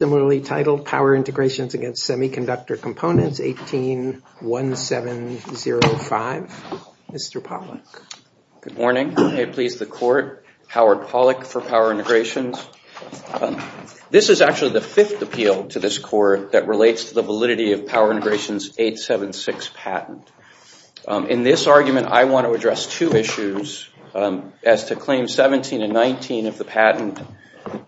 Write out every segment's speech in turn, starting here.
Similarly titled, Power Integrations against Semiconductor Components, 18-1705. Mr. Pollack. Good morning. May it please the Court, Howard Pollack for Power Integrations. This is actually the fifth appeal to this Court that relates to the validity of Power Integrations 876 patent. In this argument, I want to address two issues as to Claim 17 and 19 of the patent.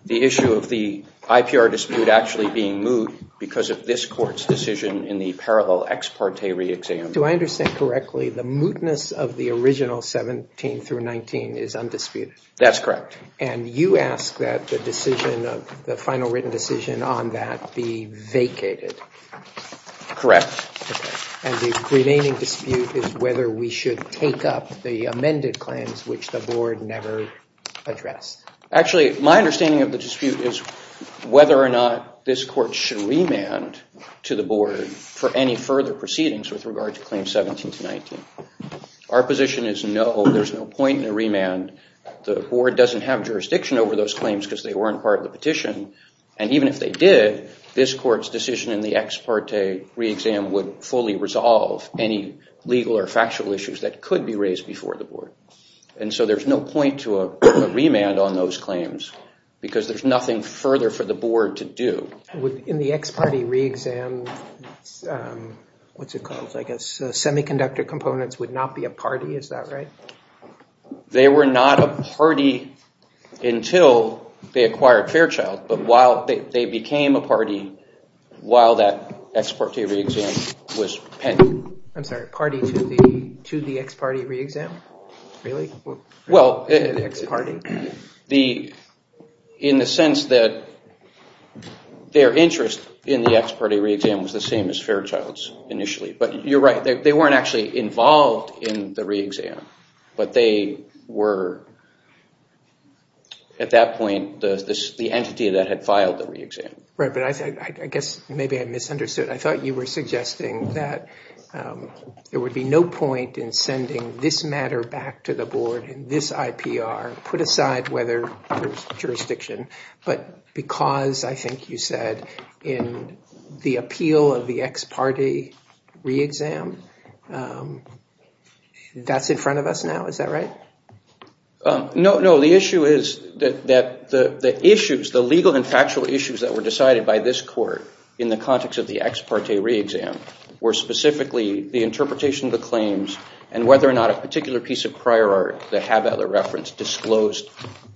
The issue of the IPR dispute actually being moot because of this Court's decision in the parallel ex parte re-exam. Do I understand correctly, the mootness of the original 17-19 is undisputed? That's correct. And you ask that the final written decision on that be vacated? Correct. And the remaining dispute is whether we should take up the amended claims which the Board never addressed? Actually, my understanding of the dispute is whether or not this Court should remand to the Board for any further proceedings with regard to Claim 17-19. Our position is no, there's no point in a remand. The Board doesn't have jurisdiction over those claims because they weren't part of the petition. And even if they did, this Court's decision in the ex parte re-exam would fully resolve any legal or factual issues that could be raised before the Board. And so there's no point to a remand on those claims because there's nothing further for the Board to do. In the ex parte re-exam, what's it called, I guess, semiconductor components would not be a party, is that right? They were not a party until they acquired Fairchild, but they became a party while that ex parte re-exam was pending. I'm sorry, party to the ex parte re-exam? Really? Well, in the sense that their interest in the ex parte re-exam was the same as Fairchild's initially, but you're right, they weren't actually involved in the re-exam, but they were at that point the entity that had filed the re-exam. Right, but I guess maybe I misunderstood. I thought you were suggesting that there would be no point in sending this matter back to the Board in this IPR, put aside whether there's jurisdiction, but because, I think you said, in the appeal of the ex parte re-exam, that's in front of us now, is that right? No, no, the issue is that the issues, the legal and factual issues that were decided by this Court in the context of the ex parte re-exam were specifically the interpretation of the claims and whether or not a particular piece of prior art that had that reference disclosed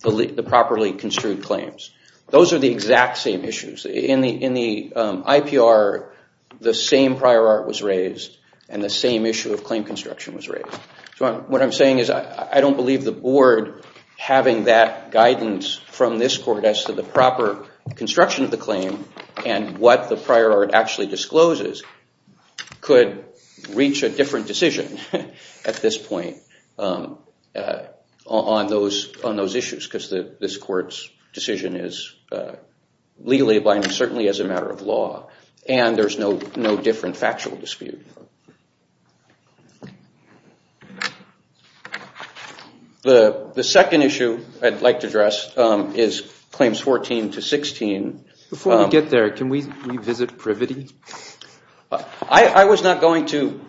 the properly construed claims. Those are the exact same issues. In the IPR, the same prior art was raised and the same issue of claim construction was raised. So what I'm saying is I don't believe the Board having that guidance from this Court as to the proper construction of the claim and what the prior art actually discloses could reach a different decision at this point on those issues because this Court's decision is legally abiding, certainly as a matter of law, and there's no different factual dispute. The second issue I'd like to address is claims 14 to 16. Before we get there, can we revisit privity? I was not going to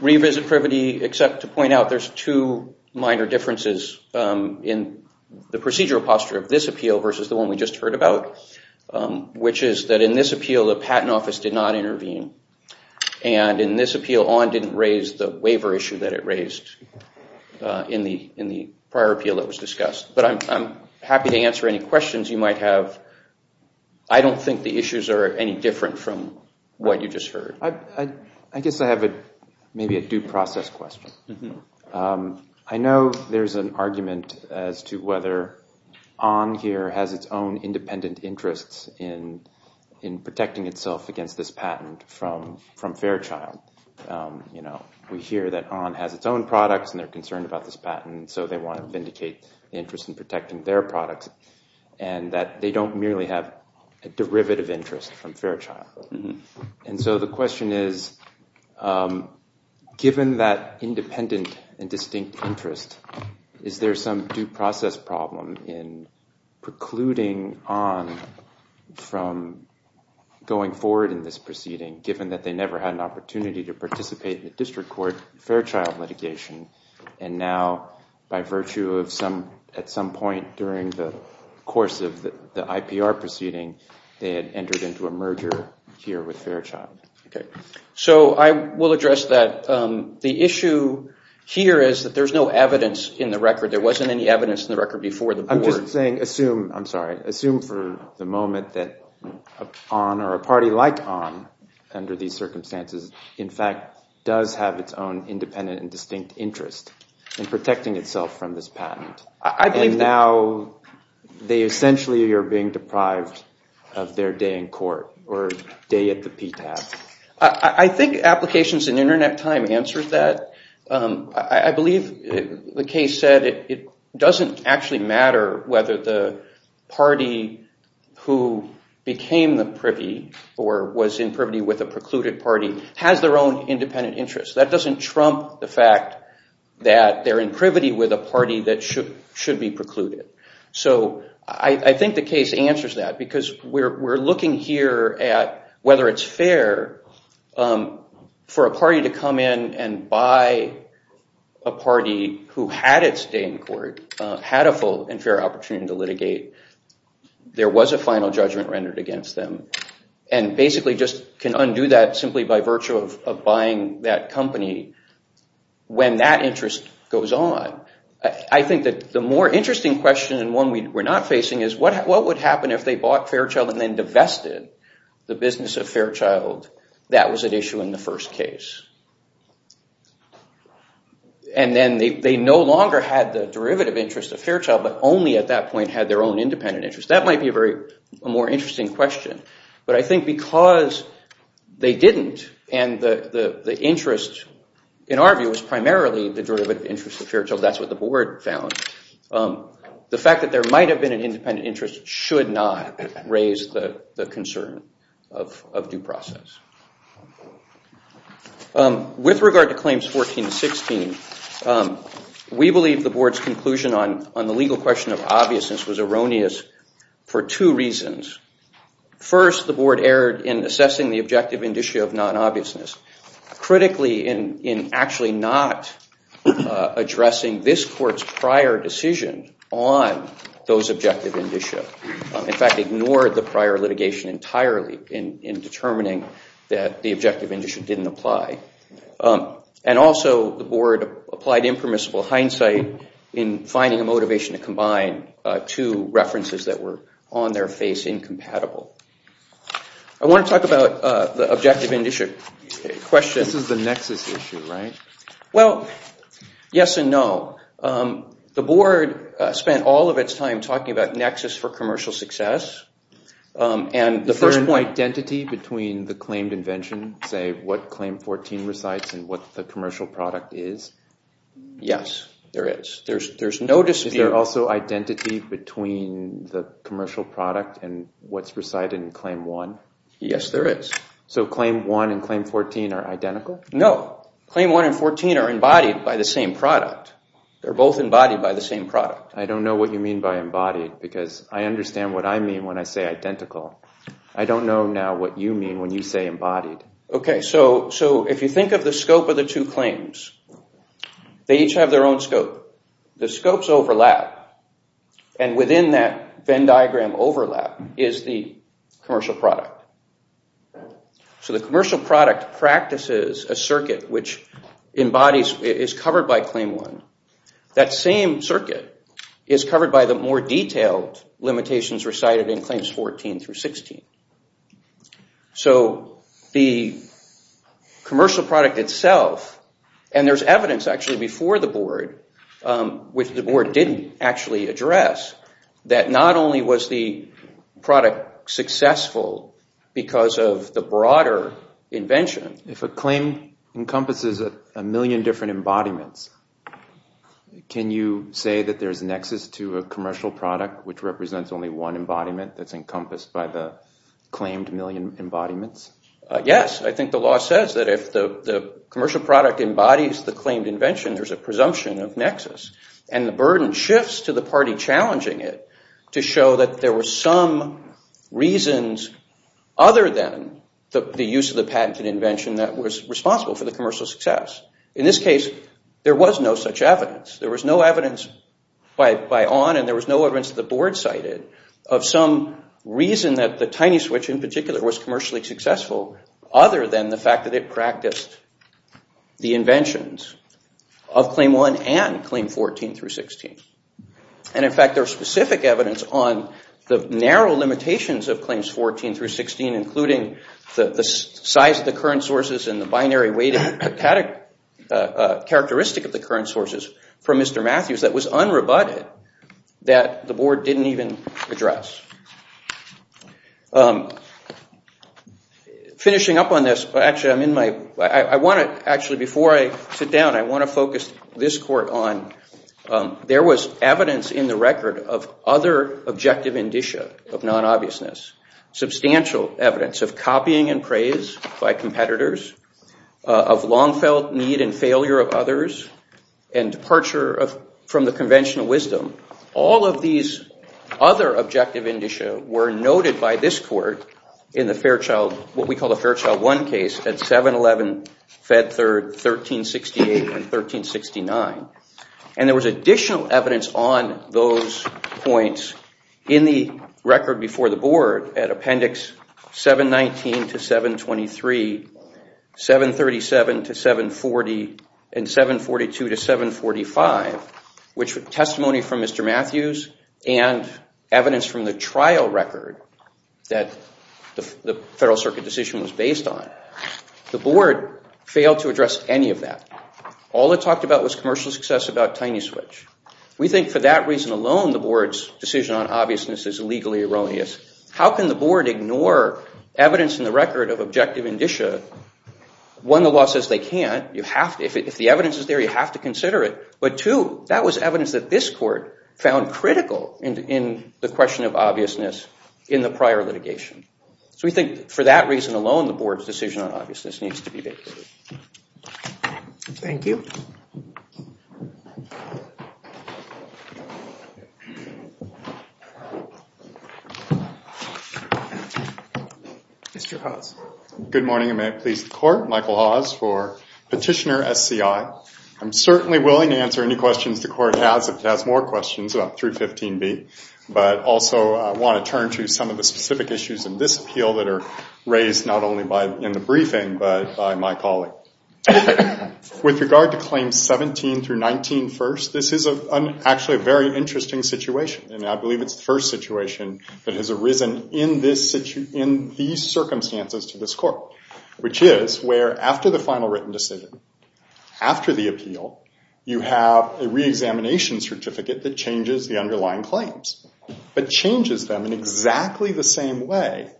revisit privity except to point out there's two minor differences in the procedural posture of this appeal versus the one we just heard about, which is that in this appeal the Patent Office did not intervene and in this appeal ON didn't raise the waiver issue that it raised in the prior appeal that was discussed. But I'm happy to answer any questions you might have. I don't think the issues are any different from what you just heard. I guess I have maybe a due process question. I know there's an argument as to whether ON here has its own independent interests in protecting itself against this patent from Fairchild. We hear that ON has its own products and they're concerned about this patent, so they want to vindicate the interest in protecting their products, and that they don't merely have a derivative interest from Fairchild. And so the question is, given that independent and distinct interest, is there some due process problem in precluding ON from going forward in this proceeding, given that they never had an opportunity to participate in the District Court Fairchild litigation, and now by virtue of at some point during the course of the IPR proceeding they had entered into a merger here with Fairchild. So I will address that. The issue here is that there's no evidence in the record. There wasn't any evidence in the record before the board. I'm just saying assume, I'm sorry, assume for the moment that ON or a party like ON under these circumstances in fact does have its own independent and distinct interest in protecting itself from this patent. And now they essentially are being deprived of their day in court or day at the PTAB. I think applications and internet time answers that. I believe the case said it doesn't actually matter whether the party who became the privy or was in privity with a precluded party has their own independent interest. That doesn't trump the fact that they're in privity with a party that should be precluded. So I think the case answers that because we're looking here at whether it's fair for a party to come in and buy a party who had its day in court, had a full and fair opportunity to litigate. There was a final judgment rendered against them. And basically just can undo that simply by virtue of buying that company when that interest goes on. I think that the more interesting question and one we're not facing is what would happen if they bought Fairchild and then divested the business of Fairchild that was at issue in the first case. And then they no longer had the derivative interest of Fairchild but only at that point had their own independent interest. That might be a more interesting question. But I think because they didn't and the interest in our view was primarily the derivative interest of Fairchild, that's what the board found, the fact that there might have been an independent interest should not raise the concern of due process. With regard to claims 14 and 16, we believe the board's conclusion on the legal question of obviousness was erroneous for two reasons. First, the board erred in assessing the objective indicia of non-obviousness, critically in actually not addressing this court's prior decision on those objective indicia. In fact, ignored the prior litigation entirely in determining that the objective indicia didn't apply. And also the board applied impermissible hindsight in finding a motivation to combine two references that were on their face incompatible. I want to talk about the objective indicia question. This is the nexus issue, right? Well, yes and no. The board spent all of its time talking about nexus for commercial success. Is there an identity between the claimed invention, say what claim 14 recites and what the commercial product is? Yes, there is. There's no dispute. Is there also identity between the commercial product and what's recited in claim 1? Yes, there is. So claim 1 and claim 14 are identical? No. Claim 1 and 14 are embodied by the same product. They're both embodied by the same product. I don't know what you mean by embodied because I understand what I mean when I say identical. I don't know now what you mean when you say embodied. Okay, so if you think of the scope of the two claims, they each have their own scope. The scopes overlap and within that Venn diagram overlap is the commercial product. So the commercial product practices a circuit which is covered by claim 1. That same circuit is covered by the more detailed limitations recited in claims 14 through 16. So the commercial product itself, and there's evidence actually before the board, which the board didn't actually address, that not only was the product successful because of the broader invention. If a claim encompasses a million different embodiments, can you say that there's a nexus to a commercial product which represents only one embodiment that's encompassed by the claimed million embodiments? Yes. I think the law says that if the commercial product embodies the claimed invention, there's a presumption of nexus. And the burden shifts to the party challenging it to show that there were some reasons other than the use of the patent and invention that was responsible for the commercial success. In this case, there was no such evidence. There was no evidence by Ahn and there was no evidence that the board cited of some reason that the tiny switch in particular was commercially successful other than the fact that it practiced the inventions of claim 1 and claim 14 through 16. And in fact, there's specific evidence on the narrow limitations of claims 14 through 16 including the size of the current sources and the binary weighting characteristic of the current sources from Mr. Matthews that was unrebutted that the board didn't even address. Finishing up on this, actually before I sit down, I want to focus this court on, there was evidence in the record of other objective indicia of non-obviousness, substantial evidence of copying and praise by competitors, of long-felt need and failure of others and departure from the conventional wisdom. All of these other objective indicia were noted by this court in the Fairchild, what we call the Fairchild 1 case at 7-11, Fed Third, 13-68 and 13-69. And there was additional evidence on those points in the record before the board at Appendix 7-19 to 7-23, 7-37 to 7-40 and 7-42 to 7-45, which were testimony from Mr. Matthews and evidence from the trial record that the Federal Circuit decision was based on. The board failed to address any of that. All it talked about was commercial success about tiny switch. We think for that reason alone, the board's decision on obviousness is legally erroneous. How can the board ignore evidence in the record of objective indicia? One, the law says they can't. If the evidence is there, you have to consider it. But two, that was evidence that this court found critical in the question of obviousness in the prior litigation. So we think for that reason alone, the board's decision on obviousness needs to be vacated. Thank you. Mr. Hawes. Good morning, and may it please the court. Michael Hawes for Petitioner SCI. I'm certainly willing to answer any questions the court has, if it has more questions, about 315B. But also, I want to turn to some of the specific issues in this appeal that are raised, With regard to climate change, I think it's important to understand that in claims 17 through 19 first, this is actually a very interesting situation. And I believe it's the first situation that has arisen in these circumstances to this court, which is where after the final written decision, after the appeal, you have a reexamination certificate that changes the underlying claims, but changes them in exactly the same way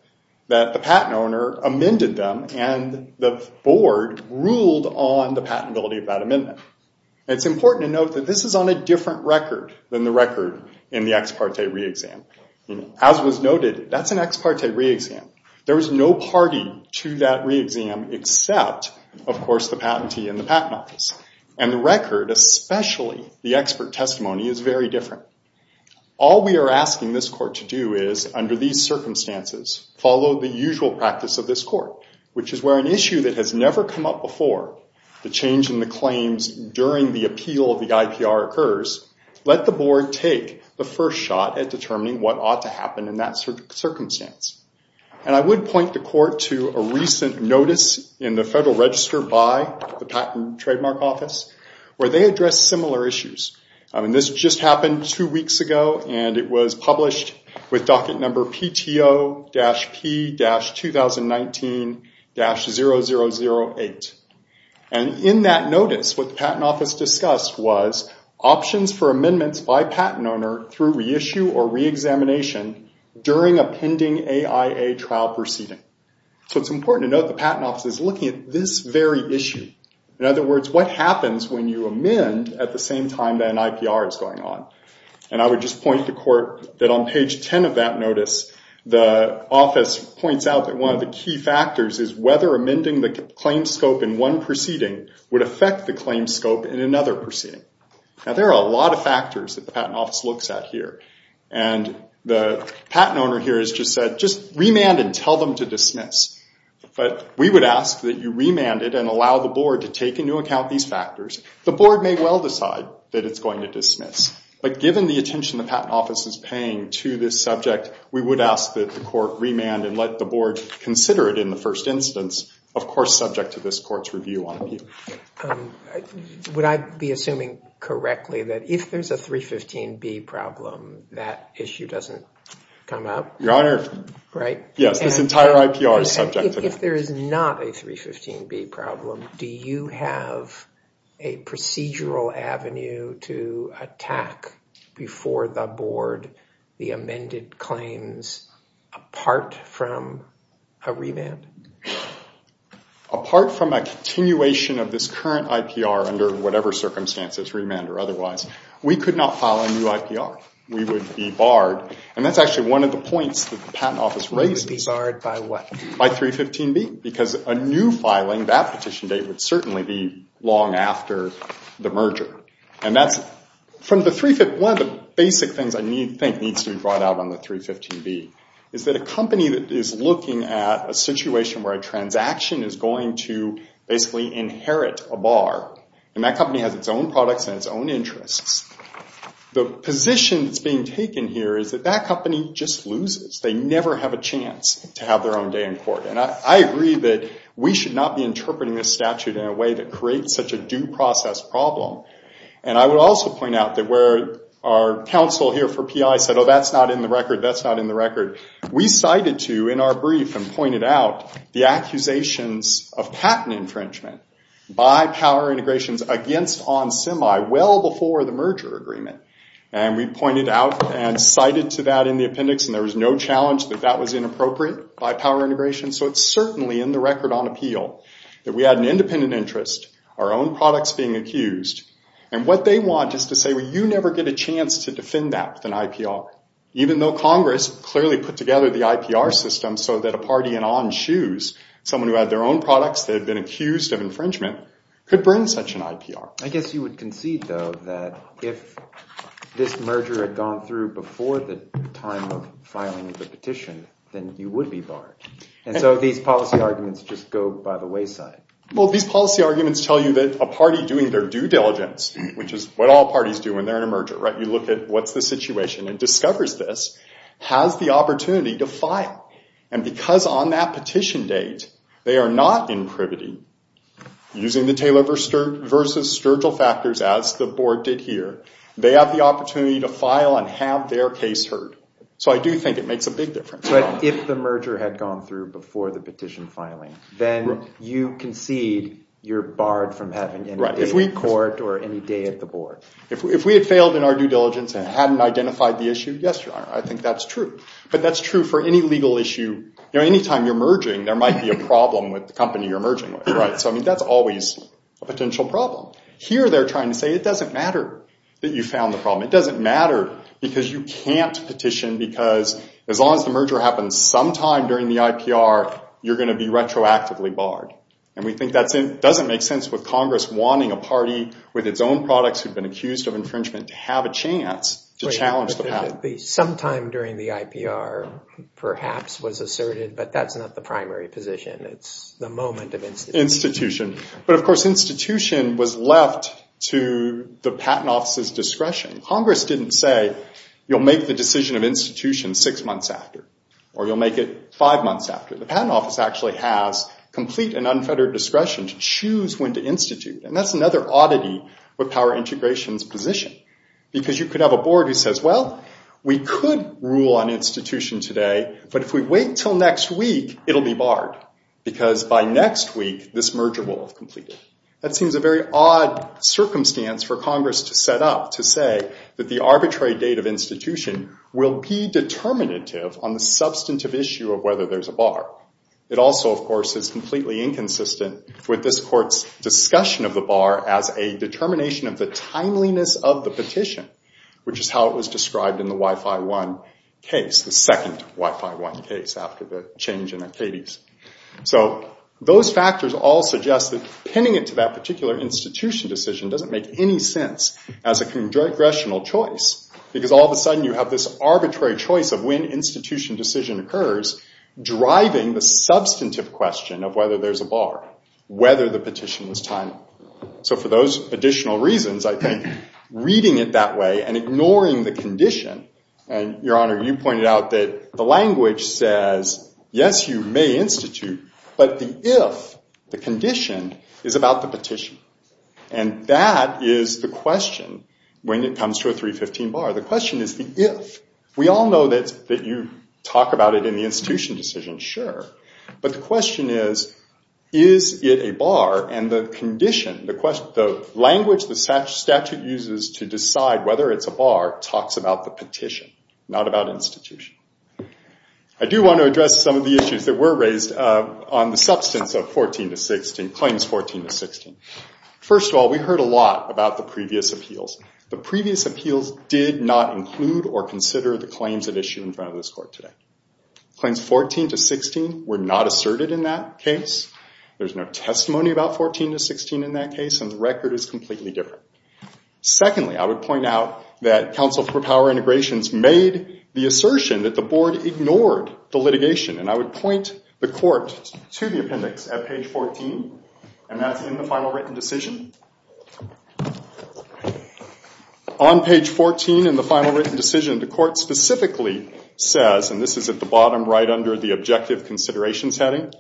that the patent owner amended them and the board ruled on the patentability of that amendment. And it's important to note that this is on a different record than the record in the ex parte reexam. As was noted, that's an ex parte reexam. There is no party to that reexam except, of course, the patentee and the patent office. And the record, especially the expert testimony, is very different. All we are asking this court to do is, under these circumstances, follow the usual practice of this court, which is where an issue that has never come up before, the change in the claims during the appeal of the IPR occurs, let the board take the first shot at determining what ought to happen in that circumstance. And I would point the court to a recent notice in the Federal Register by the Patent and Trademark Office, where they address similar issues. And this just happened two weeks ago, and it was published with docket number PTO-P-2019-0008. And in that notice, what the Patent Office discussed was options for amendments by patent owner through reissue or reexamination during a pending AIA trial proceeding. So it's important to note the Patent Office is looking at this very issue. In other words, what happens when you amend at the same time that an IPR is going on? And I would just point the court that on page 10 of that notice, the office points out that one of the key factors is whether amending the claim scope in one proceeding would affect the claim scope in another proceeding. Now, there are a lot of factors that the Patent Office looks at here. And the patent owner here has just said, just remand and tell them to dismiss. But we would ask that you remand it and allow the board to take into account these factors. The board may well decide that it's going to dismiss. But given the attention the Patent Office is paying to this subject, we would ask that the court remand and let the board consider it in the first instance, of course, subject to this court's review on appeal. Would I be assuming correctly that if there's a 315B problem, that issue doesn't come up? Your Honor. Right? Yes, this entire IPR is subject to that. If there is not a 315B problem, do you have a procedural avenue to attack before the board the amended claims apart from a remand? Apart from a continuation of this current IPR under whatever circumstances, remand or otherwise, we could not file a new IPR. We would be barred. And that's actually one of the points the Patent Office raises. We would be barred by what? By 315B. Because a new filing, that petition date, would certainly be long after the merger. And that's from the 315B. One of the basic things I think needs to be brought out on the 315B is that a company that is looking at a situation where a transaction is going to basically inherit a bar, and that company has its own products and its own interests, the position that's being taken here is that that company just loses. They never have a chance to have their own day in court. And I agree that we should not be interpreting this statute in a way that creates such a due process problem. And I would also point out that where our counsel here for PI said, oh, that's not in the record, that's not in the record, we cited to in our brief and pointed out the accusations of patent infringement by Power Integrations against OnSemi well before the merger agreement. And we pointed out and cited to that in the appendix. And there was no challenge that that was inappropriate by Power Integrations. So it's certainly in the record on appeal that we had an independent interest, our own products being accused. And what they want is to say, well, you never get a chance to defend that with an IPR, even though Congress clearly put together the IPR system so that a party in On's shoes, someone who had their own products that had been accused of infringement, could bring such an IPR. I guess you would concede, though, that if this merger had gone through before the time of filing the petition, then you would be barred. And so these policy arguments just go by the wayside. Well, these policy arguments tell you that a party doing their due diligence, which is what all parties do when they're in a merger, you look at what's the situation, and discovers this, has the opportunity to file. And because on that petition date, they are not in privity, using the Taylor versus Sturgill factors as the board did here, they have the opportunity to file and have their case heard. So I do think it makes a big difference. But if the merger had gone through before the petition filing, then you concede you're barred from having any day in court or any day at the board. If we had failed in our due diligence and hadn't identified the issue, yes, I think that's true. But that's true for any legal issue. Any time you're merging, there might be a problem with the company you're merging with. So that's always a potential problem. Here, they're trying to say it doesn't matter that you found the problem. It doesn't matter, because you can't petition. Because as long as the merger happens sometime during the IPR, you're going to be retroactively barred. And we think that doesn't make sense with Congress wanting a party with its own products who've been accused of infringement to have a chance to challenge the patent. Wait a minute. Sometime during the IPR, perhaps, was asserted. But that's not the primary position. It's the moment of institution. Institution. But of course, institution was left to the patent office's discretion. Congress didn't say, you'll make the decision of institution six months after, or you'll make it five months after. The patent office actually has complete and unfettered discretion to choose when to institute. And that's another oddity with power integration's position. Because you could have a board who says, well, we could rule on institution today. But if we wait till next week, it'll be barred, because by next week, this merger will have completed. That seems a very odd circumstance for Congress to set up to say that the arbitrary date of institution will be determinative on the substantive issue of whether there's a bar. It also, of course, is completely inconsistent with this court's discussion of the bar as a determination of the timeliness of the petition, which is how it was described in the Wi-Fi One case, the second Wi-Fi One case after the change in Acades. So those factors all suggest that pinning it to that particular institution decision doesn't make any sense as a congressional choice. Because all of a sudden, you have this arbitrary choice of when institution decision occurs, driving the substantive question of whether there's a bar, whether the petition was timely. So for those additional reasons, I think, reading it that way and ignoring the condition, and Your Honor, you pointed out that the language says, yes, you may institute. But the if, the condition, is about the petition. And that is the question when it comes to a 315 bar. The question is the if. We all know that you talk about it in the institution decision, sure. But the question is, is it a bar? And the condition, the language the statute uses to decide whether it's a bar talks about the petition, not about institution. I do want to address some of the issues that were raised on the substance of claims 14 to 16. First of all, we heard a lot about the previous appeals. The previous appeals did not include or consider the claims at issue in front of this court today. Claims 14 to 16 were not asserted in that case. There's no testimony about 14 to 16 in that case. And the record is completely different. Secondly, I would point out that Counsel for Power Integrations made the assertion that the board ignored the litigation. And I would point the court to the appendix at page 14. And that's in the final written decision. On page 14 in the final written decision, the court specifically says, and this is at the bottom right under the objective considerations heading,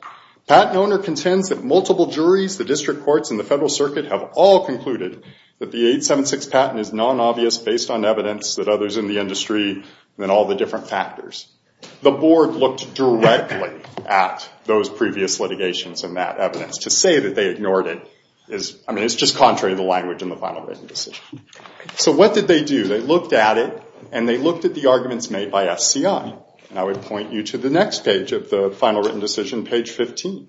patent owner contends that multiple juries, the district courts, and the Federal Circuit have all concluded that the 876 patent is non-obvious based on evidence that others in the industry and all the different factors. The board looked directly at those previous litigations and that evidence to say that they ignored it. I mean, it's just contrary to the language in the final written decision. So what did they do? They looked at it. And they looked at the arguments made by SCI. And I would point you to the next page of the final written decision, page 15.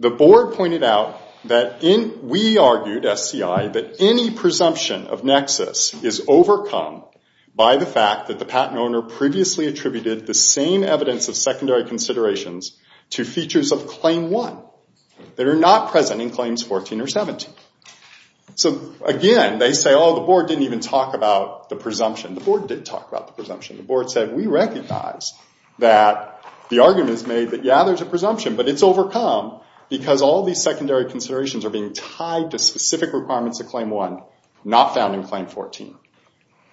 The board pointed out that we argued, SCI, that any presumption of nexus is overcome by the fact that the patent owner previously attributed the same evidence of secondary considerations to features of claim 1 that are not present in claims 14 or 17. So again, they say, oh, the board didn't even talk about the presumption. The board did talk about the presumption. The board said, we recognize that the argument is made that, yeah, there's a presumption. But it's overcome because all these secondary considerations are being tied to specific requirements of claim 1, not found in claim 14.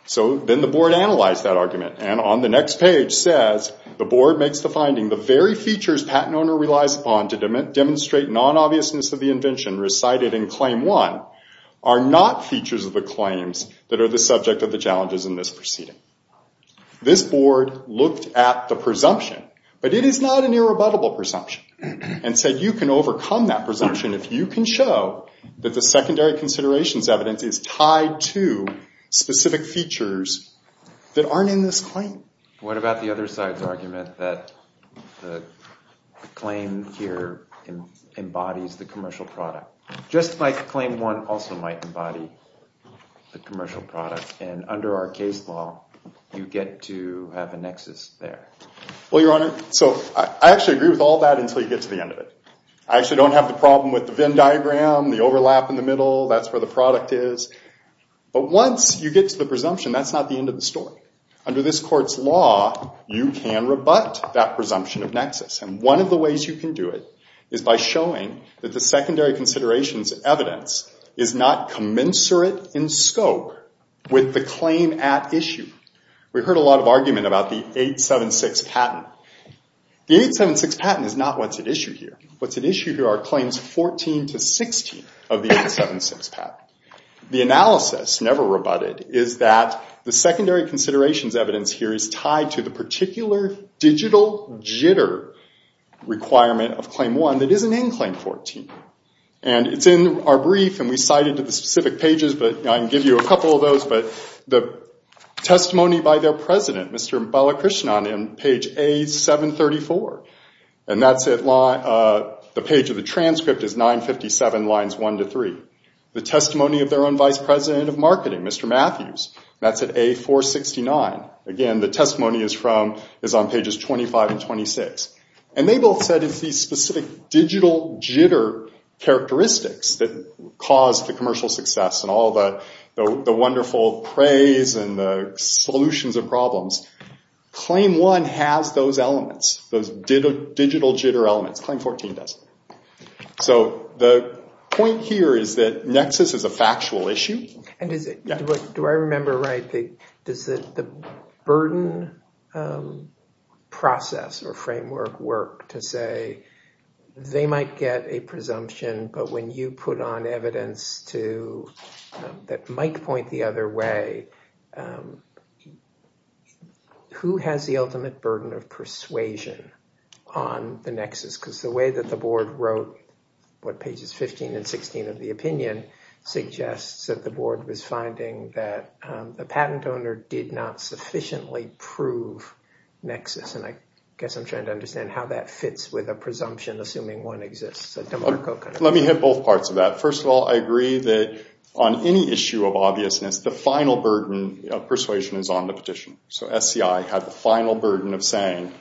So then the board analyzed that argument. And on the next page says, the board makes the finding the very features patent owner relies upon to demonstrate non-obviousness of the invention recited in claim 1 are not features of the claims that are the subject of the challenges in this proceeding. This board looked at the presumption. But it is not an irrebuttable presumption and said, you can overcome that presumption if you can show that the secondary considerations evidence is tied to specific features that aren't in this claim. And what about the other side's argument that the claim here embodies the commercial product, just like claim 1 also might embody the commercial product. And under our case law, you get to have a nexus there. Well, Your Honor, so I actually agree with all that until you get to the end of it. I actually don't have the problem with the Venn diagram, the overlap in the middle. That's where the product is. But once you get to the presumption, that's not the end of the story. Under this court's law, you can rebut that presumption of nexus. And one of the ways you can do it is by showing that the secondary considerations evidence is not commensurate in scope with the claim at issue. We heard a lot of argument about the 876 patent. The 876 patent is not what's at issue here. What's at issue here are claims 14 to 16 of the 876 patent. The analysis never rebutted is that the secondary considerations evidence here is tied to the particular digital jitter requirement of claim 1 that isn't in claim 14. And it's in our brief, and we cite it to the specific pages. But I can give you a couple of those. But the testimony by their president, Mr. Balakrishnan, in page A734, and that's it. The page of the transcript is 957 lines 1 to 3. The testimony of their own vice president of marketing, Mr. Matthews, that's at A469. Again, the testimony is on pages 25 and 26. And they both said it's these specific digital jitter characteristics that caused the commercial success and all the wonderful praise and the solutions of problems. Claim 1 has those elements, those digital jitter elements. Claim 14 does. So the point here is that nexus is a factual issue. Do I remember right? Does the burden process or framework work to say they might get a presumption, but when you put on evidence that might point the other way, who has the ultimate burden of persuasion on the nexus? Because the way that the board wrote what pages 15 and 16 of the opinion suggests that the board was finding that the patent owner did not sufficiently prove nexus. And I guess I'm trying to understand how that fits with a presumption assuming one exists. Let me hit both parts of that. First of all, I agree that on any issue of obviousness, the final burden of persuasion is on the petitioner. So SCI had the final burden of saying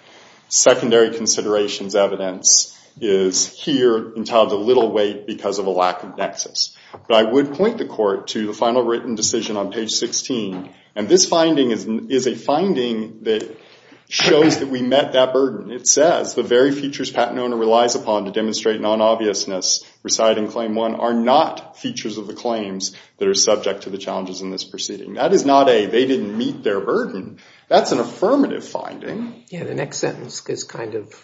secondary considerations evidence is here entitled to little weight because of a lack of nexus. But I would point the court to the final written decision on page 16. And this finding is a finding that shows that we met that burden. It says the very features patent owner relies upon to demonstrate non-obviousness reside in Claim 1 are not features of the claims that are subject to the challenges in this proceeding. That is not a they didn't meet their burden. That's an affirmative finding. Yeah, the next sentence is kind of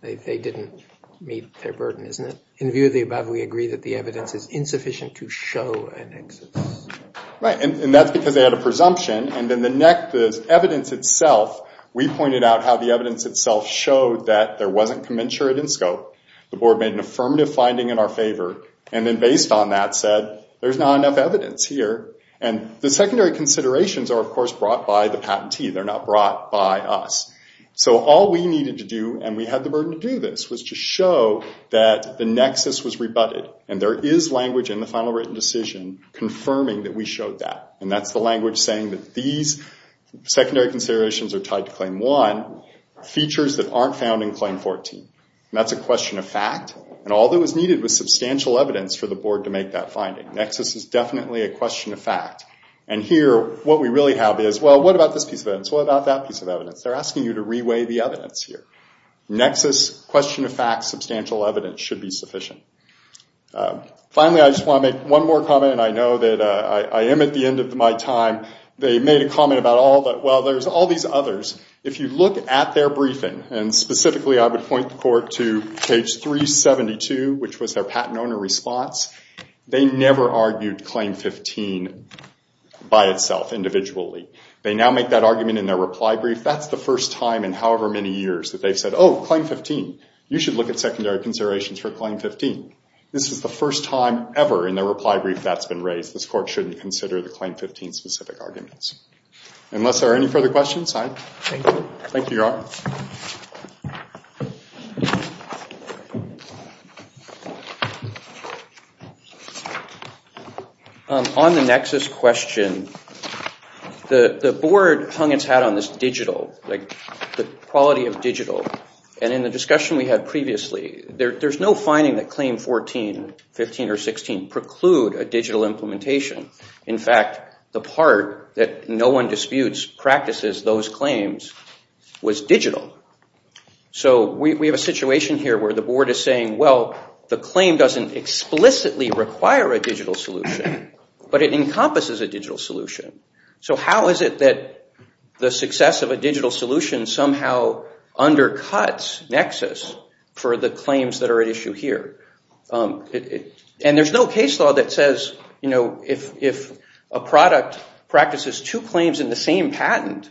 they didn't meet their burden, isn't it? In view of the above, we agree that the evidence is insufficient to show a nexus. Right, and that's because they had a presumption. And then the evidence itself, we pointed out how the evidence itself showed that there wasn't commensurate in scope. The board made an affirmative finding in our favor. And then based on that said there's not enough evidence here. And the secondary considerations are, of course, brought by the patentee. They're not brought by us. So all we needed to do, and we had the burden to do this, was to show that the nexus was rebutted. And there is language in the final written decision confirming that we showed that. And that's the language saying that these secondary considerations are tied to Claim 1, features that aren't found in Claim 14. And that's a question of fact. And all that was needed was substantial evidence for the board to make that finding. Nexus is definitely a question of fact. And here, what we really have is, well, what about this piece of evidence? What about that piece of evidence? They're asking you to reweigh the evidence here. Nexus, question of fact, substantial evidence should be sufficient. Finally, I just want to make one more comment, and I know that I am at the end of my time. They made a comment about, well, there's all these others. If you look at their briefing, and specifically I would point the court to page 372, which was their patent owner response, they never argued Claim 15 by itself, individually. They now make that argument in their reply brief. That's the first time in however many years that they've said, oh, Claim 15, you should look at secondary considerations for Claim 15. This is the first time ever in their reply brief that's been raised. This court shouldn't consider the Claim 15 specific arguments. Unless there are any further questions, I thank you all. On the Nexus question, the board hung its hat on this digital, the quality of digital, and in the discussion we had previously, there's no finding that Claim 14, 15, or 16 preclude a digital implementation. In fact, the part that no one disputes practices those claims was digital. So we have a situation here where the board is saying, well, the claim doesn't explicitly require a digital solution, but it encompasses a digital solution. So how is it that the success of a digital solution somehow undercuts Nexus for the claims that are at issue here? And there's no case law that says if a product practices two claims in the same patent,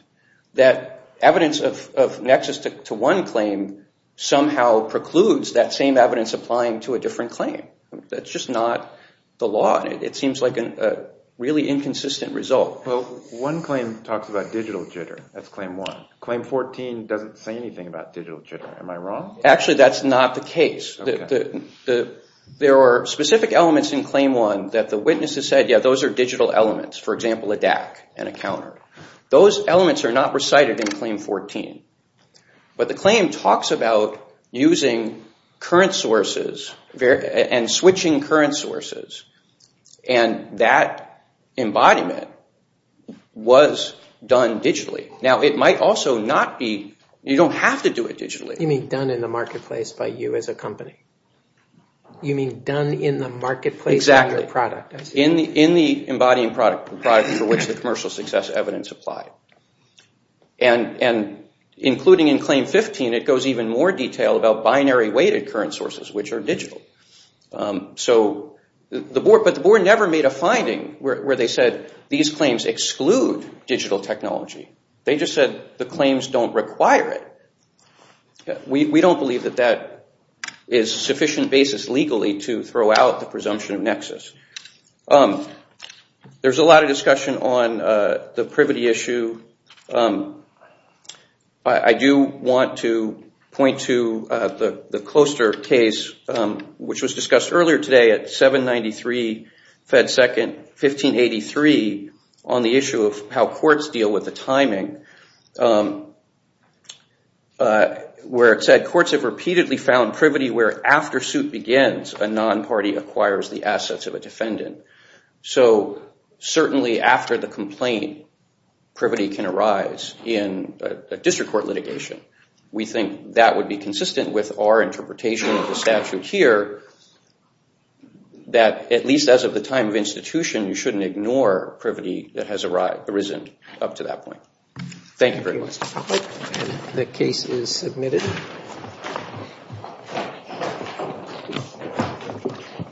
that evidence of Nexus to one claim somehow precludes that same evidence applying to a different claim. That's just not the law. It seems like a really inconsistent result. Well, one claim talks about digital jitter. That's Claim 1. Claim 14 doesn't say anything about digital jitter. Am I wrong? Actually, that's not the case. There are specific elements in Claim 1 that the witness has said, yeah, those are digital elements, for example, a DAC and a counter. Those elements are not recited in Claim 14. But the claim talks about using current sources and switching current sources. And that embodiment was done digitally. Now, it might also not be – you don't have to do it digitally. You mean done in the marketplace by you as a company? You mean done in the marketplace of your product? Exactly. In the embodying product for which the commercial success evidence applied. And including in Claim 15, it goes even more detailed about binary-weighted current sources, which are digital. But the board never made a finding where they said these claims exclude digital technology. They just said the claims don't require it. We don't believe that that is sufficient basis legally to throw out the presumption of nexus. There's a lot of discussion on the privity issue. I do want to point to the Closter case, which was discussed earlier today at 793 Fed 2nd, 1583, on the issue of how courts deal with the timing, where it said courts have repeatedly found privity where after suit begins, a non-party acquires the assets of a defendant. So certainly after the complaint, privity can arise in a district court litigation. We think that would be consistent with our interpretation of the statute here, that at least as of the time of institution, you shouldn't ignore privity that has arisen up to that point. Thank you very much. The case is submitted. Thank you.